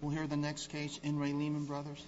We'll hear the next case in Ray Lehman Brothers.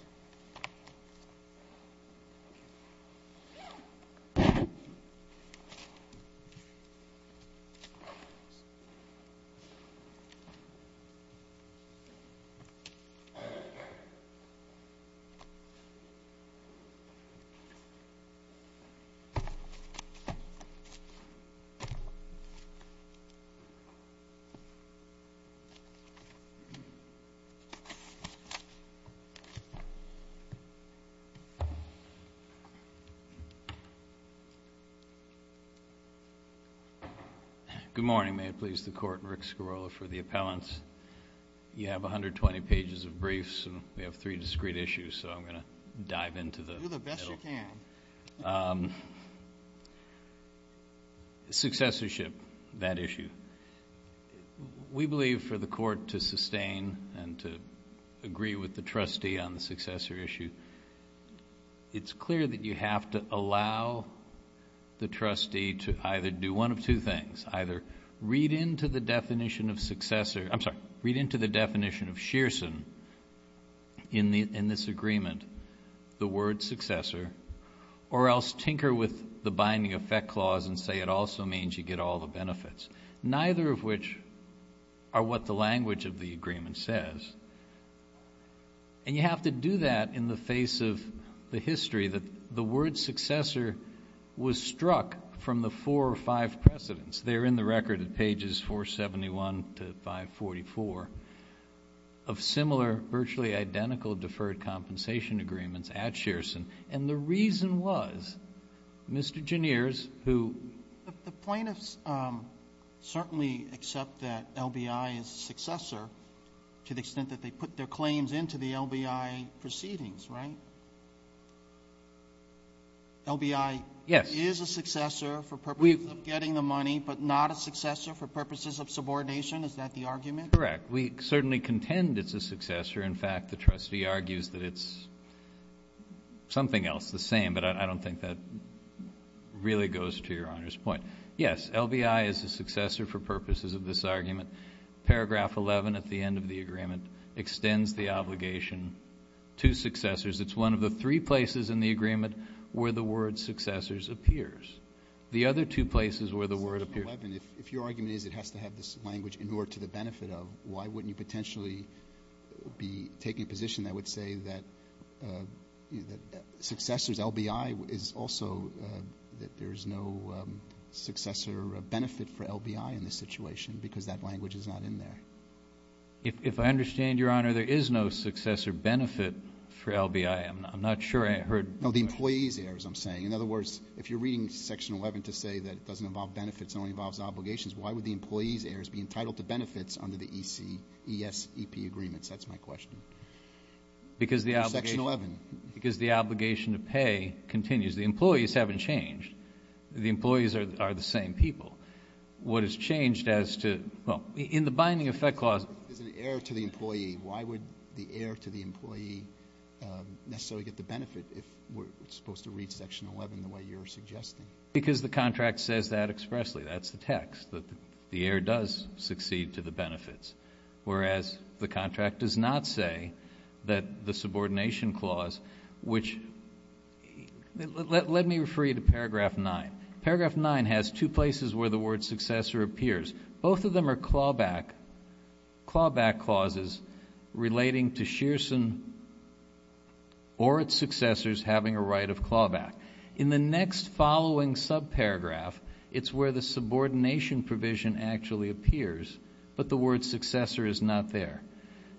Good morning, may it please the Court, Rick Scarola for the appellants. You have 120 pages of briefs and we have three discreet issues, so I'm going to dive into the middle. Do the best you can. Successorship, that issue. We believe for the Court to sustain and to agree with the trustee on the successor issue, it's clear that you have to allow the trustee to either do one of two things. Either read into the definition of successor, I'm sorry, read into the definition of Shearson in this agreement, the word successor, or else tinker with the binding effect clause and say it also means you get all the benefits, neither of which are what the language of the agreement says. And you have to do that in the face of the history that the word successor was struck from the four or five precedents. They're in the record at pages 471 to 544 of similar, virtually identical deferred compensation agreements at Shearson. And the reason was, Mr. Gineers, who — The plaintiffs certainly accept that LBI is successor to the extent that they put their claims into the LBI proceedings, right? LBI is a successor for purposes of getting the money, but not a successor for purposes of subordination? Is that the argument? Correct. We certainly contend it's a successor. In fact, the trustee argues that it's something else, the same, but I don't think that really goes to Your Honor's point. Yes, LBI is a successor for purposes of this argument. Paragraph 11 at the end of the agreement extends the obligation to successors. It's one of the three places in the agreement where the word successors appears. The other two places where the word appears — Section 11, if your argument is it has to have this language in order to the benefit of, why wouldn't you potentially be taking a position that would say that successors — LBI is also — that there is no successor benefit for LBI in this situation because that language is not in there? If I understand Your Honor, there is no successor benefit for LBI. I'm not sure I heard — No, the employees' errors, I'm saying. In other words, if you're reading Section 11 to say that it doesn't involve benefits, under the ESEP agreements, that's my question. Because the — Section 11. Because the obligation to pay continues. The employees haven't changed. The employees are the same people. What has changed as to — well, in the Binding Effect Clause — It's an error to the employee. Why would the error to the employee necessarily get the benefit if we're supposed to read Section 11 the way you're suggesting? Because the contract says that expressly. That's the text. The error does succeed to the benefits, whereas the contract does not say that the subordination clause, which — let me refer you to Paragraph 9. Paragraph 9 has two places where the word successor appears. Both of them are clawback clauses relating to Shearson or its successors having a right of clawback. In the next following subparagraph, it's where the subordination provision actually appears, but the word successor is not there.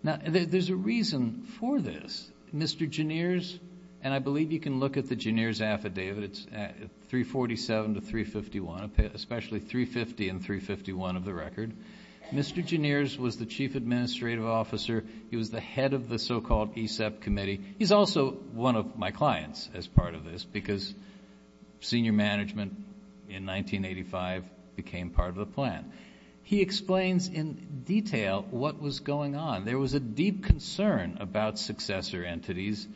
Now, there's a reason for this. Mr. Genier's — and I believe you can look at the Genier's affidavit. It's 347 to 351, especially 350 and 351 of the record. Mr. Genier's was the chief administrative officer. He was the head of the so-called ESEP committee. He's also one of my clients as part of this because senior management in 1985 became part of the plan. He explains in detail what was going on. There was a deep concern about successor entities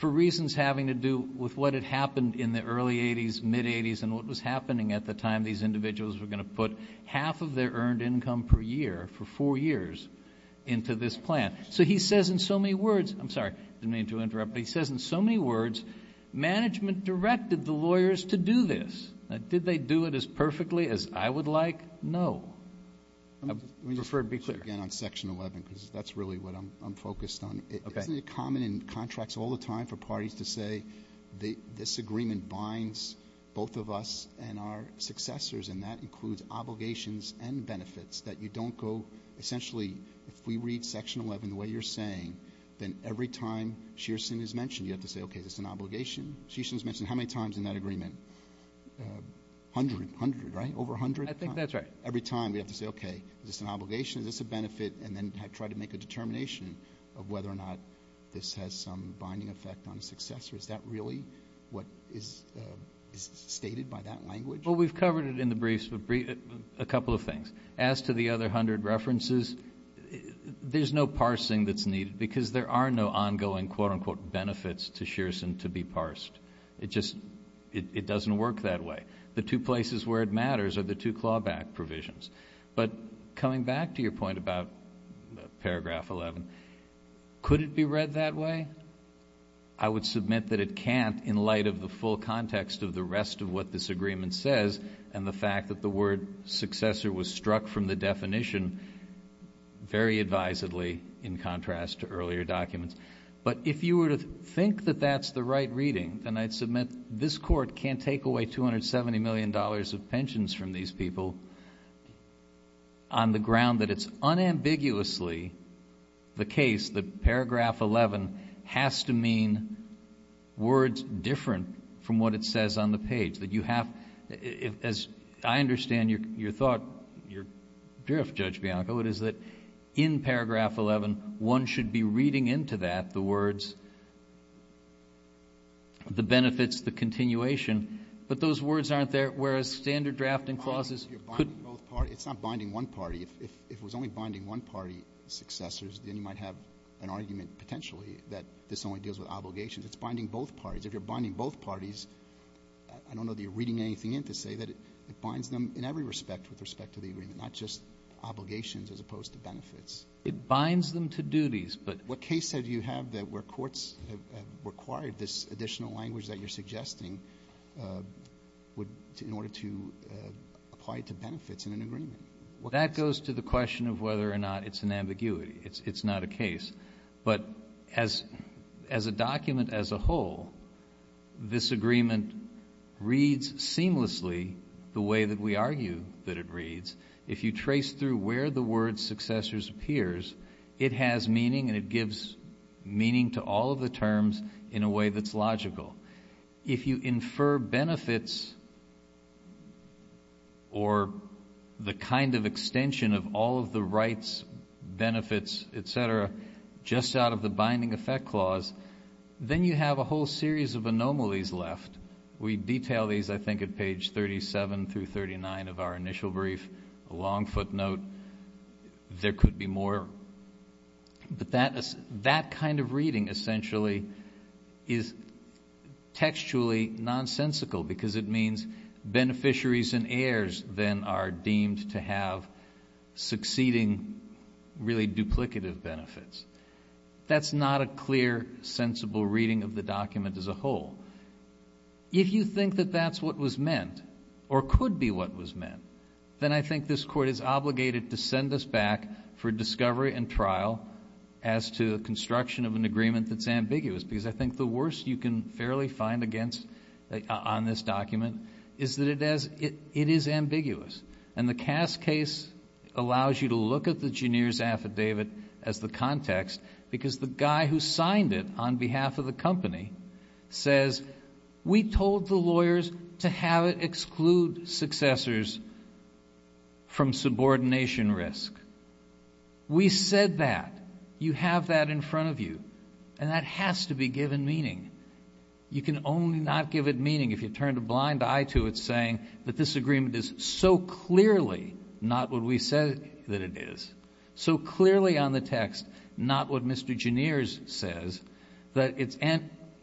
for reasons having to do with what had happened in the early 80s, mid-80s, and what was happening at the time these individuals were going to put half of their earned income per year for four years into this plan. So he says in so many words — I'm sorry, I didn't mean to interrupt, but he says in so many words, management directed the lawyers to do this. Did they do it as perfectly as I would like? No. I prefer to be clear. Let me just say it again on Section 11 because that's really what I'm focused on. Okay. Isn't it common in contracts all the time for parties to say, this agreement binds both of us and our successors, and that includes obligations and benefits that you don't go through? So essentially, if we read Section 11 the way you're saying, then every time Shearson is mentioned, you have to say, okay, is this an obligation? Shearson's mentioned how many times in that agreement? A hundred. A hundred. Right? Over a hundred? I think that's right. Every time we have to say, okay, is this an obligation? Is this a benefit? And then try to make a determination of whether or not this has some binding effect on a successor. Is that really what is stated by that language? Well, we've covered it in the briefs, but a couple of things. As to the other hundred references, there's no parsing that's needed because there are no ongoing quote-unquote benefits to Shearson to be parsed. It just doesn't work that way. The two places where it matters are the two clawback provisions. But coming back to your point about Paragraph 11, could it be read that way? I would submit that it can't in light of the full context of the rest of what this agreement says and the fact that the word successor was struck from the definition very advisedly in contrast to earlier documents. But if you were to think that that's the right reading, then I'd submit this Court can't take away $270 million of pensions from these people on the ground that it's unambiguously the case that Paragraph 11 has to mean words different from what it says on the page, that you have, as I understand your thought, your drift, Judge Bianco, it is that in Paragraph 11, one should be reading into that the words, the benefits, the continuation, but those words aren't there, whereas standard drafting clauses could be binding both parties. It's not binding one party. If it was only binding one party, successors, then you might have an argument potentially that this only deals with obligations. It's binding both parties. If you're binding both parties, I don't know that you're reading anything in to say that it binds them in every respect with respect to the agreement, not just obligations as opposed to benefits. It binds them to duties. What case do you have that where courts have required this additional language that you're suggesting in order to apply it to benefits in an agreement? That goes to the question of whether or not it's an ambiguity. It's not a case, but as a document as a whole, this agreement reads seamlessly the way that we argue that it reads. If you trace through where the word successors appears, it has meaning and it gives meaning to all of the terms in a way that's logical. If you infer benefits or the kind of extension of all of the rights, benefits, et cetera, just out of the binding effect clause, then you have a whole series of anomalies left. We detail these, I think, at page 37 through 39 of our initial brief, a long footnote. There could be more, but that kind of reading essentially is textually nonsensical because it means beneficiaries and heirs then are deemed to have succeeding really duplicative benefits. That's not a clear, sensible reading of the document as a whole. If you think that that's what was meant or could be what was meant, then I think this is obligated to send us back for discovery and trial as to the construction of an agreement that's ambiguous. I think the worst you can fairly find on this document is that it is ambiguous. The Cass case allows you to look at the Genier's affidavit as the context because the guy who signed it on behalf of the company says, we told the lawyers to have it exclude successors from subordination risk. We said that. You have that in front of you, and that has to be given meaning. You can only not give it meaning if you turn a blind eye to it saying that this agreement is so clearly not what we said that it is, so clearly on the text not what Mr. Genier's says that it's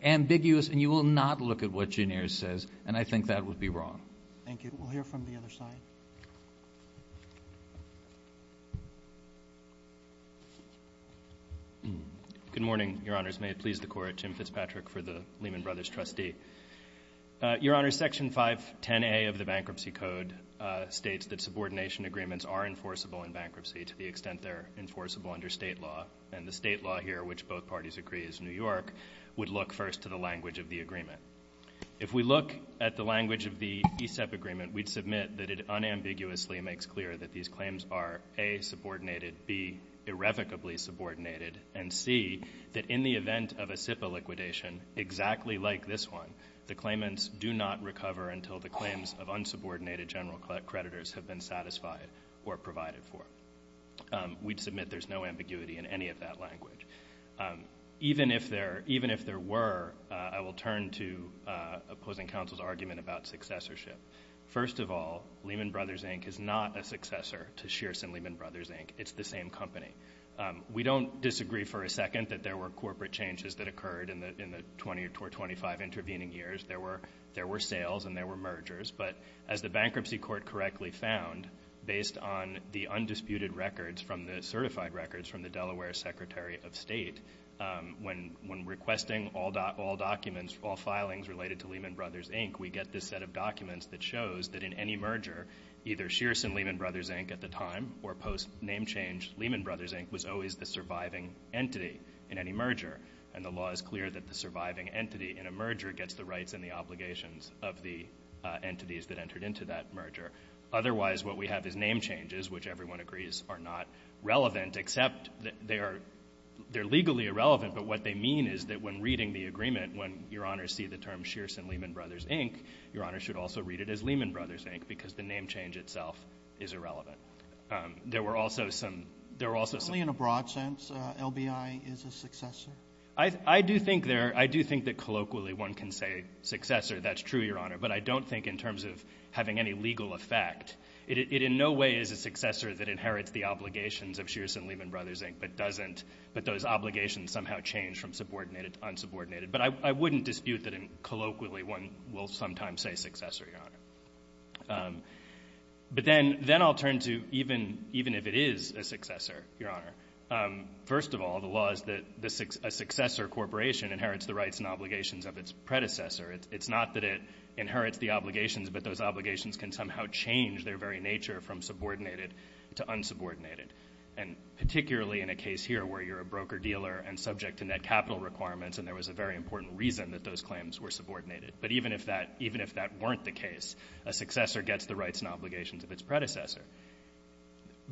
ambiguous and you will not look at what Genier's says, and I think that would be wrong. Thank you. We'll hear from the other side. Good morning, Your Honors. May it please the Court. Jim Fitzpatrick for the Lehman Brothers trustee. Your Honors, Section 510A of the Bankruptcy Code states that subordination agreements are enforceable in bankruptcy to the extent they're enforceable under state law, and the state law here, which both parties agree is New York, would look first to the language of the agreement. If we look at the language of the ESEP agreement, we'd submit that it unambiguously makes clear that these claims are, A, subordinated, B, irrevocably subordinated, and C, that in the event of a SIPA liquidation exactly like this one, the claimants do not recover until the claims of unsubordinated general creditors have been satisfied or provided for. We'd submit there's no ambiguity in any of that language. Even if there were, I will turn to opposing counsel's argument about successorship. First of all, Lehman Brothers, Inc. is not a successor to Shearson Lehman Brothers, Inc. It's the same company. We don't disagree for a second that there were corporate changes that occurred in the 20 or 25 intervening years. There were sales and there were mergers, but as the Bankruptcy Court correctly found, based on the undisputed records from the certified records from the Delaware Secretary of State, when requesting all documents, all filings related to Lehman Brothers, Inc., we get this set of documents that shows that in any merger, either Shearson Lehman Brothers, Inc. at the time or post name change, Lehman Brothers, Inc. was always the surviving entity in any merger. The law is clear that the surviving entity in a merger gets the rights and the obligations of the entities that entered into that merger. Otherwise, what we have is name changes, which everyone agrees are not relevant, except they are legally irrelevant, but what they mean is that when reading the agreement, when Your Honor sees the term Shearson Lehman Brothers, Inc., Your Honor should also read it as Lehman Brothers, Inc., because the name change itself is irrelevant. There were also some... There were also some... In a broad sense, LBI is a successor? I do think there... I do think that colloquially one can say successor. That's true, Your Honor. But I don't think in terms of having any legal effect, it in no way is a successor that inherits the obligations of Shearson Lehman Brothers, Inc., but doesn't... But those obligations somehow change from subordinated to unsubordinated, but I wouldn't dispute that colloquially one will sometimes say successor, Your Honor. But then I'll turn to even if it is a successor, Your Honor. First of all, the law is that a successor corporation inherits the rights and obligations of its predecessor. It's not that it inherits the obligations, but those obligations can somehow change their very nature from subordinated to unsubordinated, and particularly in a case here where you're a broker-dealer and subject to net capital requirements, and there was a very important reason that those claims were subordinated. But even if that... Even if that weren't the case, a successor gets the rights and obligations of its predecessor.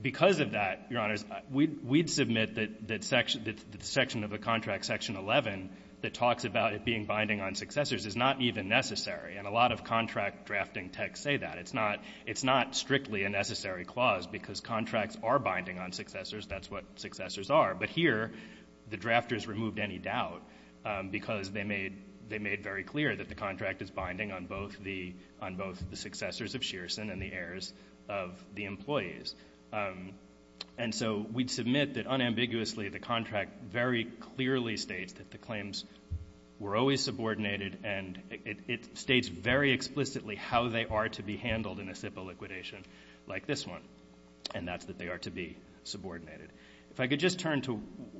Because of that, Your Honors, we'd submit that section of the contract, Section 11, that talks about it being binding on successors is not even necessary, and a lot of contract drafting texts say that. It's not strictly a necessary clause, because contracts are binding on successors. That's what successors are. But here, the drafters removed any doubt, because they made very clear that the contract is binding on both the successors of Shearson and the heirs of the employees. And so, we'd submit that unambiguously, the contract very clearly states that the claims were always subordinated, and it states very explicitly how they are to be handled in a SIPA liquidation like this one, and that's that they are to be subordinated. If I could just turn to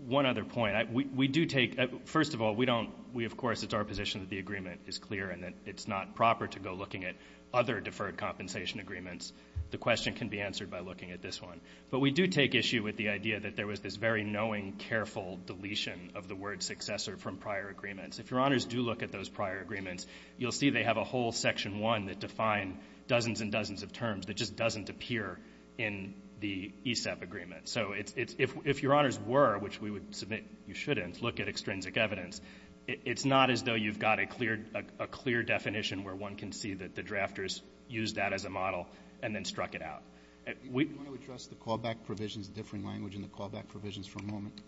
one other point. We do take... First of all, we don't... Of course, it's our position that the agreement is clear and that it's not proper to go looking at other deferred compensation agreements. The question can be answered by looking at this one, but we do take issue with the idea that there was this very knowing, careful deletion of the word successor from prior agreements. If your honors do look at those prior agreements, you'll see they have a whole section one that define dozens and dozens of terms that just doesn't appear in the ESAP agreement. So if your honors were, which we would submit you shouldn't, look at extrinsic evidence, it's not as though you've got a clear definition where one can see that the drafters used that as a model and then struck it out. Do you want to address the callback provisions, the differing language in the callback provisions for a moment?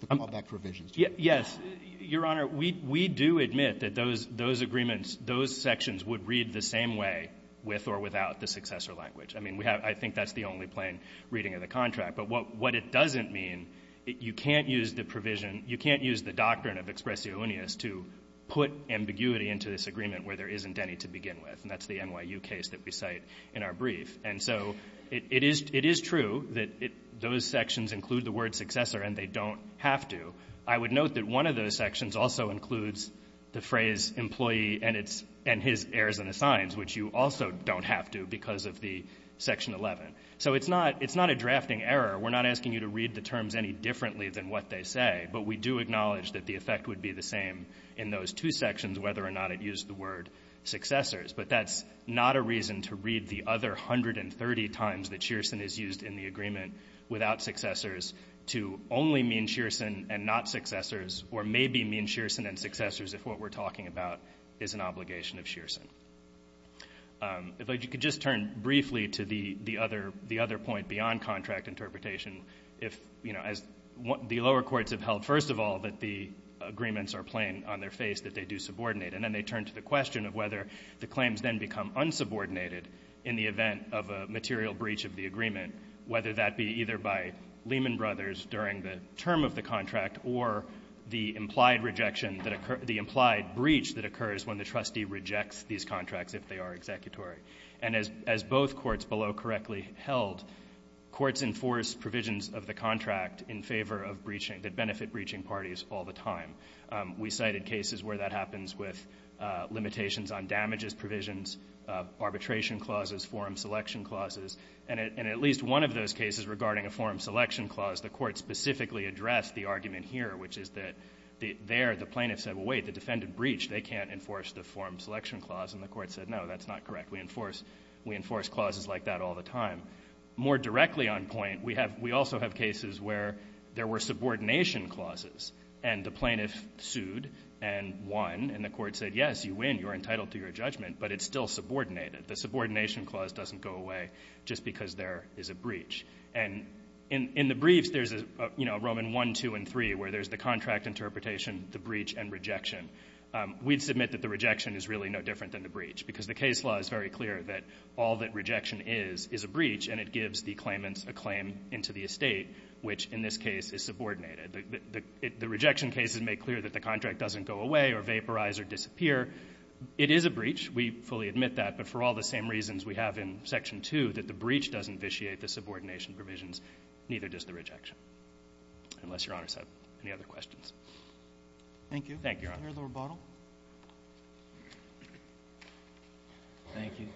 The callback provisions. Yes. Your honor, we do admit that those agreements, those sections would read the same way with or without the successor language. I mean, I think that's the only plain reading of the contract, but what it doesn't mean, you can't use the provision, you can't use the doctrine of expressionis to put ambiguity into this agreement where there isn't any to begin with, and that's the NYU case that we cite in our brief. And so it is true that those sections include the word successor and they don't have to. I would note that one of those sections also includes the phrase employee and his heirs and assigns, which you also don't have to because of the section 11. So it's not a drafting error. We're not asking you to read the terms any differently than what they say, but we do acknowledge that the effect would be the same in those two sections whether or not it used the word successors. But that's not a reason to read the other 130 times that Shearson is used in the agreement without successors to only mean Shearson and not successors or maybe mean Shearson and successors if what we're talking about is an obligation of Shearson. If I could just turn briefly to the other point beyond contract interpretation, if, you know, as the lower courts have held, first of all, that the agreements are plain on their face that they do subordinate. And then they turn to the question of whether the claims then become unsubordinated in the event of a material breach of the agreement, whether that be either by Lehman Brothers during the term of the contract or the implied rejection that the implied breach that occurs when the trustee rejects these contracts if they are executory. And as both courts below correctly held, courts enforce provisions of the contract in favor of breaching that benefit breaching parties all the time. We cited cases where that happens with limitations on damages provisions, arbitration clauses, forum selection clauses. And at least one of those cases regarding a forum selection clause, the Court specifically addressed the argument here, which is that there the plaintiff said, well, wait, the defendant breached. They can't enforce the forum selection clause. And the Court said, no, that's not correct. We enforce clauses like that all the time. More directly on point, we also have cases where there were subordination clauses and the plaintiff sued and won, and the Court said, yes, you win, you're entitled to your judgment, but it's still subordinated. The subordination clause doesn't go away just because there is a breach. And in the briefs, there's a, you know, Roman 1, 2, and 3, where there's the contract interpretation, the breach, and rejection. We'd submit that the rejection is really no different than the breach because the case law is very clear that all that rejection is is a breach, and it gives the claimants a claim into the estate, which in this case is subordinated. The rejection cases make clear that the contract doesn't go away or vaporize or disappear. It is a breach. We fully admit that. But for all the same reasons we have in Section 2, that the breach doesn't vitiate the subordination provisions, neither does the rejection, unless Your Honor has any other questions. Thank you. Thank you, Your Honor. Mr. Bottle. Thank you.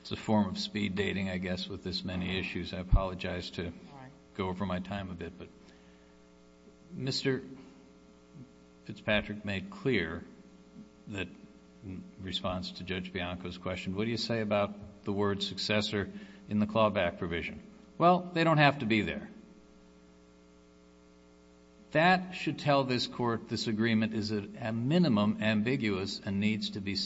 It's a form of speed dating, I guess, with this many issues. I apologize to go over my time a bit, but Mr. Fitzpatrick made clear that in response to Judge Bianco's question, what do you say about the word successor in the clawback provision? Well, they don't have to be there. That should tell this Court this agreement is at a minimum ambiguous and needs to be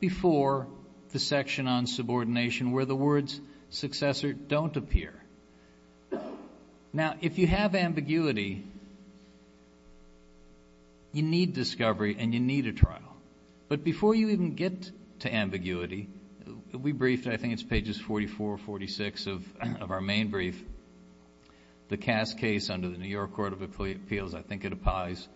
before the section on subordination where the words successor don't appear. Now, if you have ambiguity, you need discovery and you need a trial. But before you even get to ambiguity, we briefed, I think it's pages 44, 46 of our main brief, the Cass case under the New York Court of Appeals, I think it applies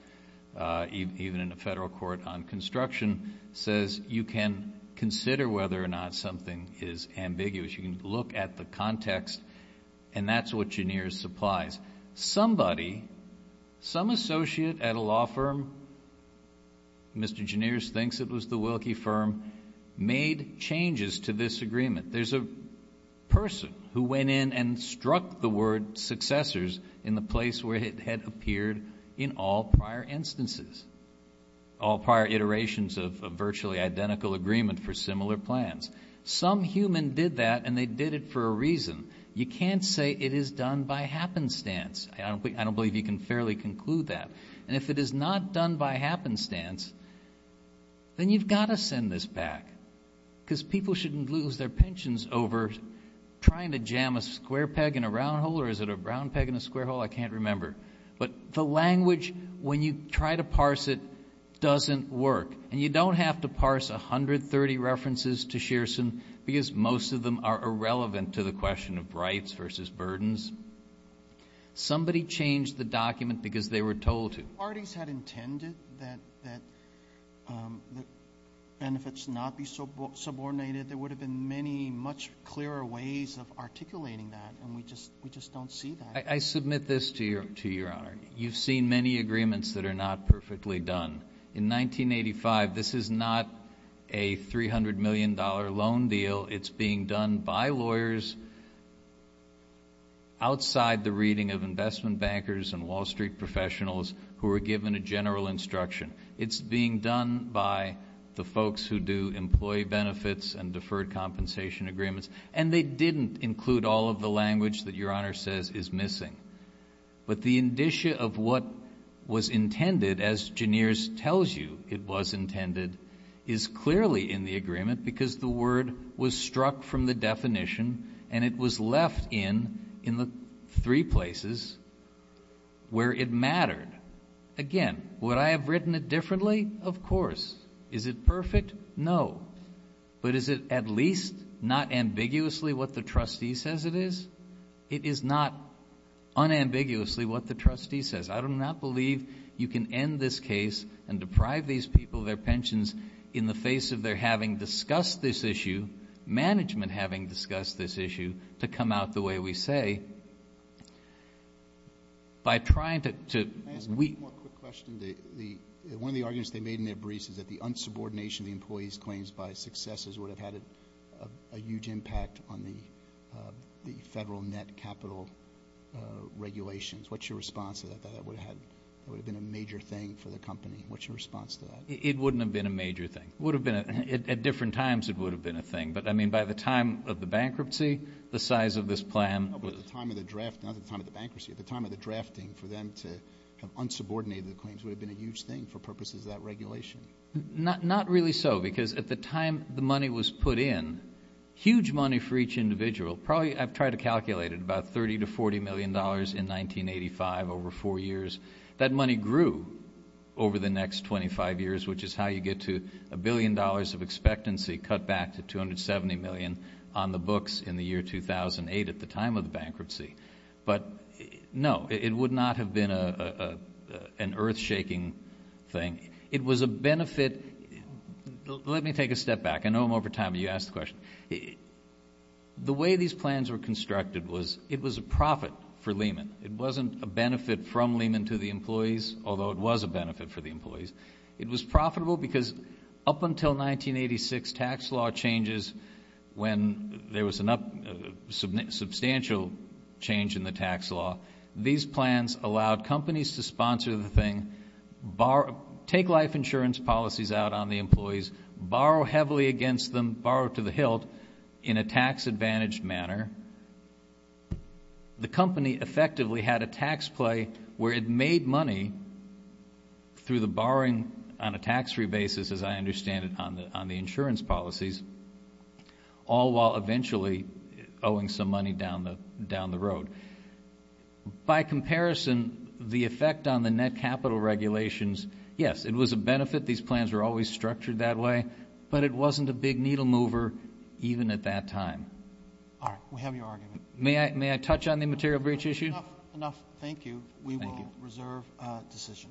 even in the Federal Court on Construction, says you can consider whether or not something is ambiguous. You can look at the context and that's what Geneers supplies. Some associate at a law firm, Mr. Geneers thinks it was the Wilkie firm, made changes to this agreement. There's a person who went in and struck the word successors in the place where it had appeared in all prior instances, all prior iterations of a virtually identical agreement for similar plans. Some human did that and they did it for a reason. You can't say it is done by happenstance. I don't believe you can fairly conclude that. And if it is not done by happenstance, then you've got to send this back because people shouldn't lose their pensions over trying to jam a square peg in a round hole or is it a brown peg in a square hole, I can't remember. But the language, when you try to parse it, doesn't work. And you don't have to parse 130 references to Shearson because most of them are irrelevant to the question of rights versus burdens. Somebody changed the document because they were told to. Parties had intended that benefits not be subordinated. There would have been many much clearer ways of articulating that and we just don't see that. I submit this to Your Honor. You've seen many agreements that are not perfectly done. In 1985, this is not a $300 million loan deal. It's being done by lawyers outside the reading of investment bankers and Wall Street professionals who were given a general instruction. It's being done by the folks who do employee benefits and deferred compensation agreements and they didn't include all of the language that Your Honor says is missing. But the indicia of what was intended, as Gineers tells you it was intended, is clearly in the agreement because the word was struck from the definition and it was left in in the three places where it mattered. Again, would I have written it differently? Of course. Is it perfect? No. But is it at least not ambiguously what the trustee says it is? It is not unambiguously what the trustee says. I do not believe you can end this case and deprive these people of their pensions in the face of their having discussed this issue, management having discussed this issue, to come out the way we say. By trying to weep. One more quick question. One of the arguments they made in their briefs is that the unsubordination of the employees claims by successors would have had a huge impact on the federal net capital regulations. What's your response to that? That would have been a major thing for the company. What's your response to that? It wouldn't have been a major thing. At different times it would have been a thing. But I mean by the time of the bankruptcy, the size of this plan... By the time of the draft, not the time of the bankruptcy, at the time of the drafting for them to have unsubordinated the claims would have been a huge thing for purposes of that regulation. Not really so, because at the time the money was put in, huge money for each individual. Probably I've tried to calculate it, about $30 to $40 million in 1985, over four years. That money grew over the next 25 years, which is how you get to a billion dollars of expectancy cut back to $270 million on the books in the year 2008 at the time of the bankruptcy. But no, it would not have been an earth-shaking thing. It was a benefit... Let me take a step back. I know I'm over time, but you asked the question. The way these plans were constructed was it was a profit for Lehman. It wasn't a benefit from Lehman to the employees, although it was a benefit for the employees. It was profitable because up until 1986 tax law changes, when there was a substantial change in the tax law, these plans allowed companies to sponsor the thing, take life insurance policies out on the employees, borrow heavily against them, borrow to the hilt in a tax-advantaged manner. The company effectively had a tax play where it made money through the borrowing on a tax-free basis, as I understand it, on the insurance policies, all while eventually owing some money down the road. By comparison, the effect on the net capital regulations... Yes, it was a benefit. These plans were always structured that way, but it wasn't a big needle mover, even at that time. All right. We have your argument. May I touch on the material breach issue? Enough. Thank you. We will reserve a decision.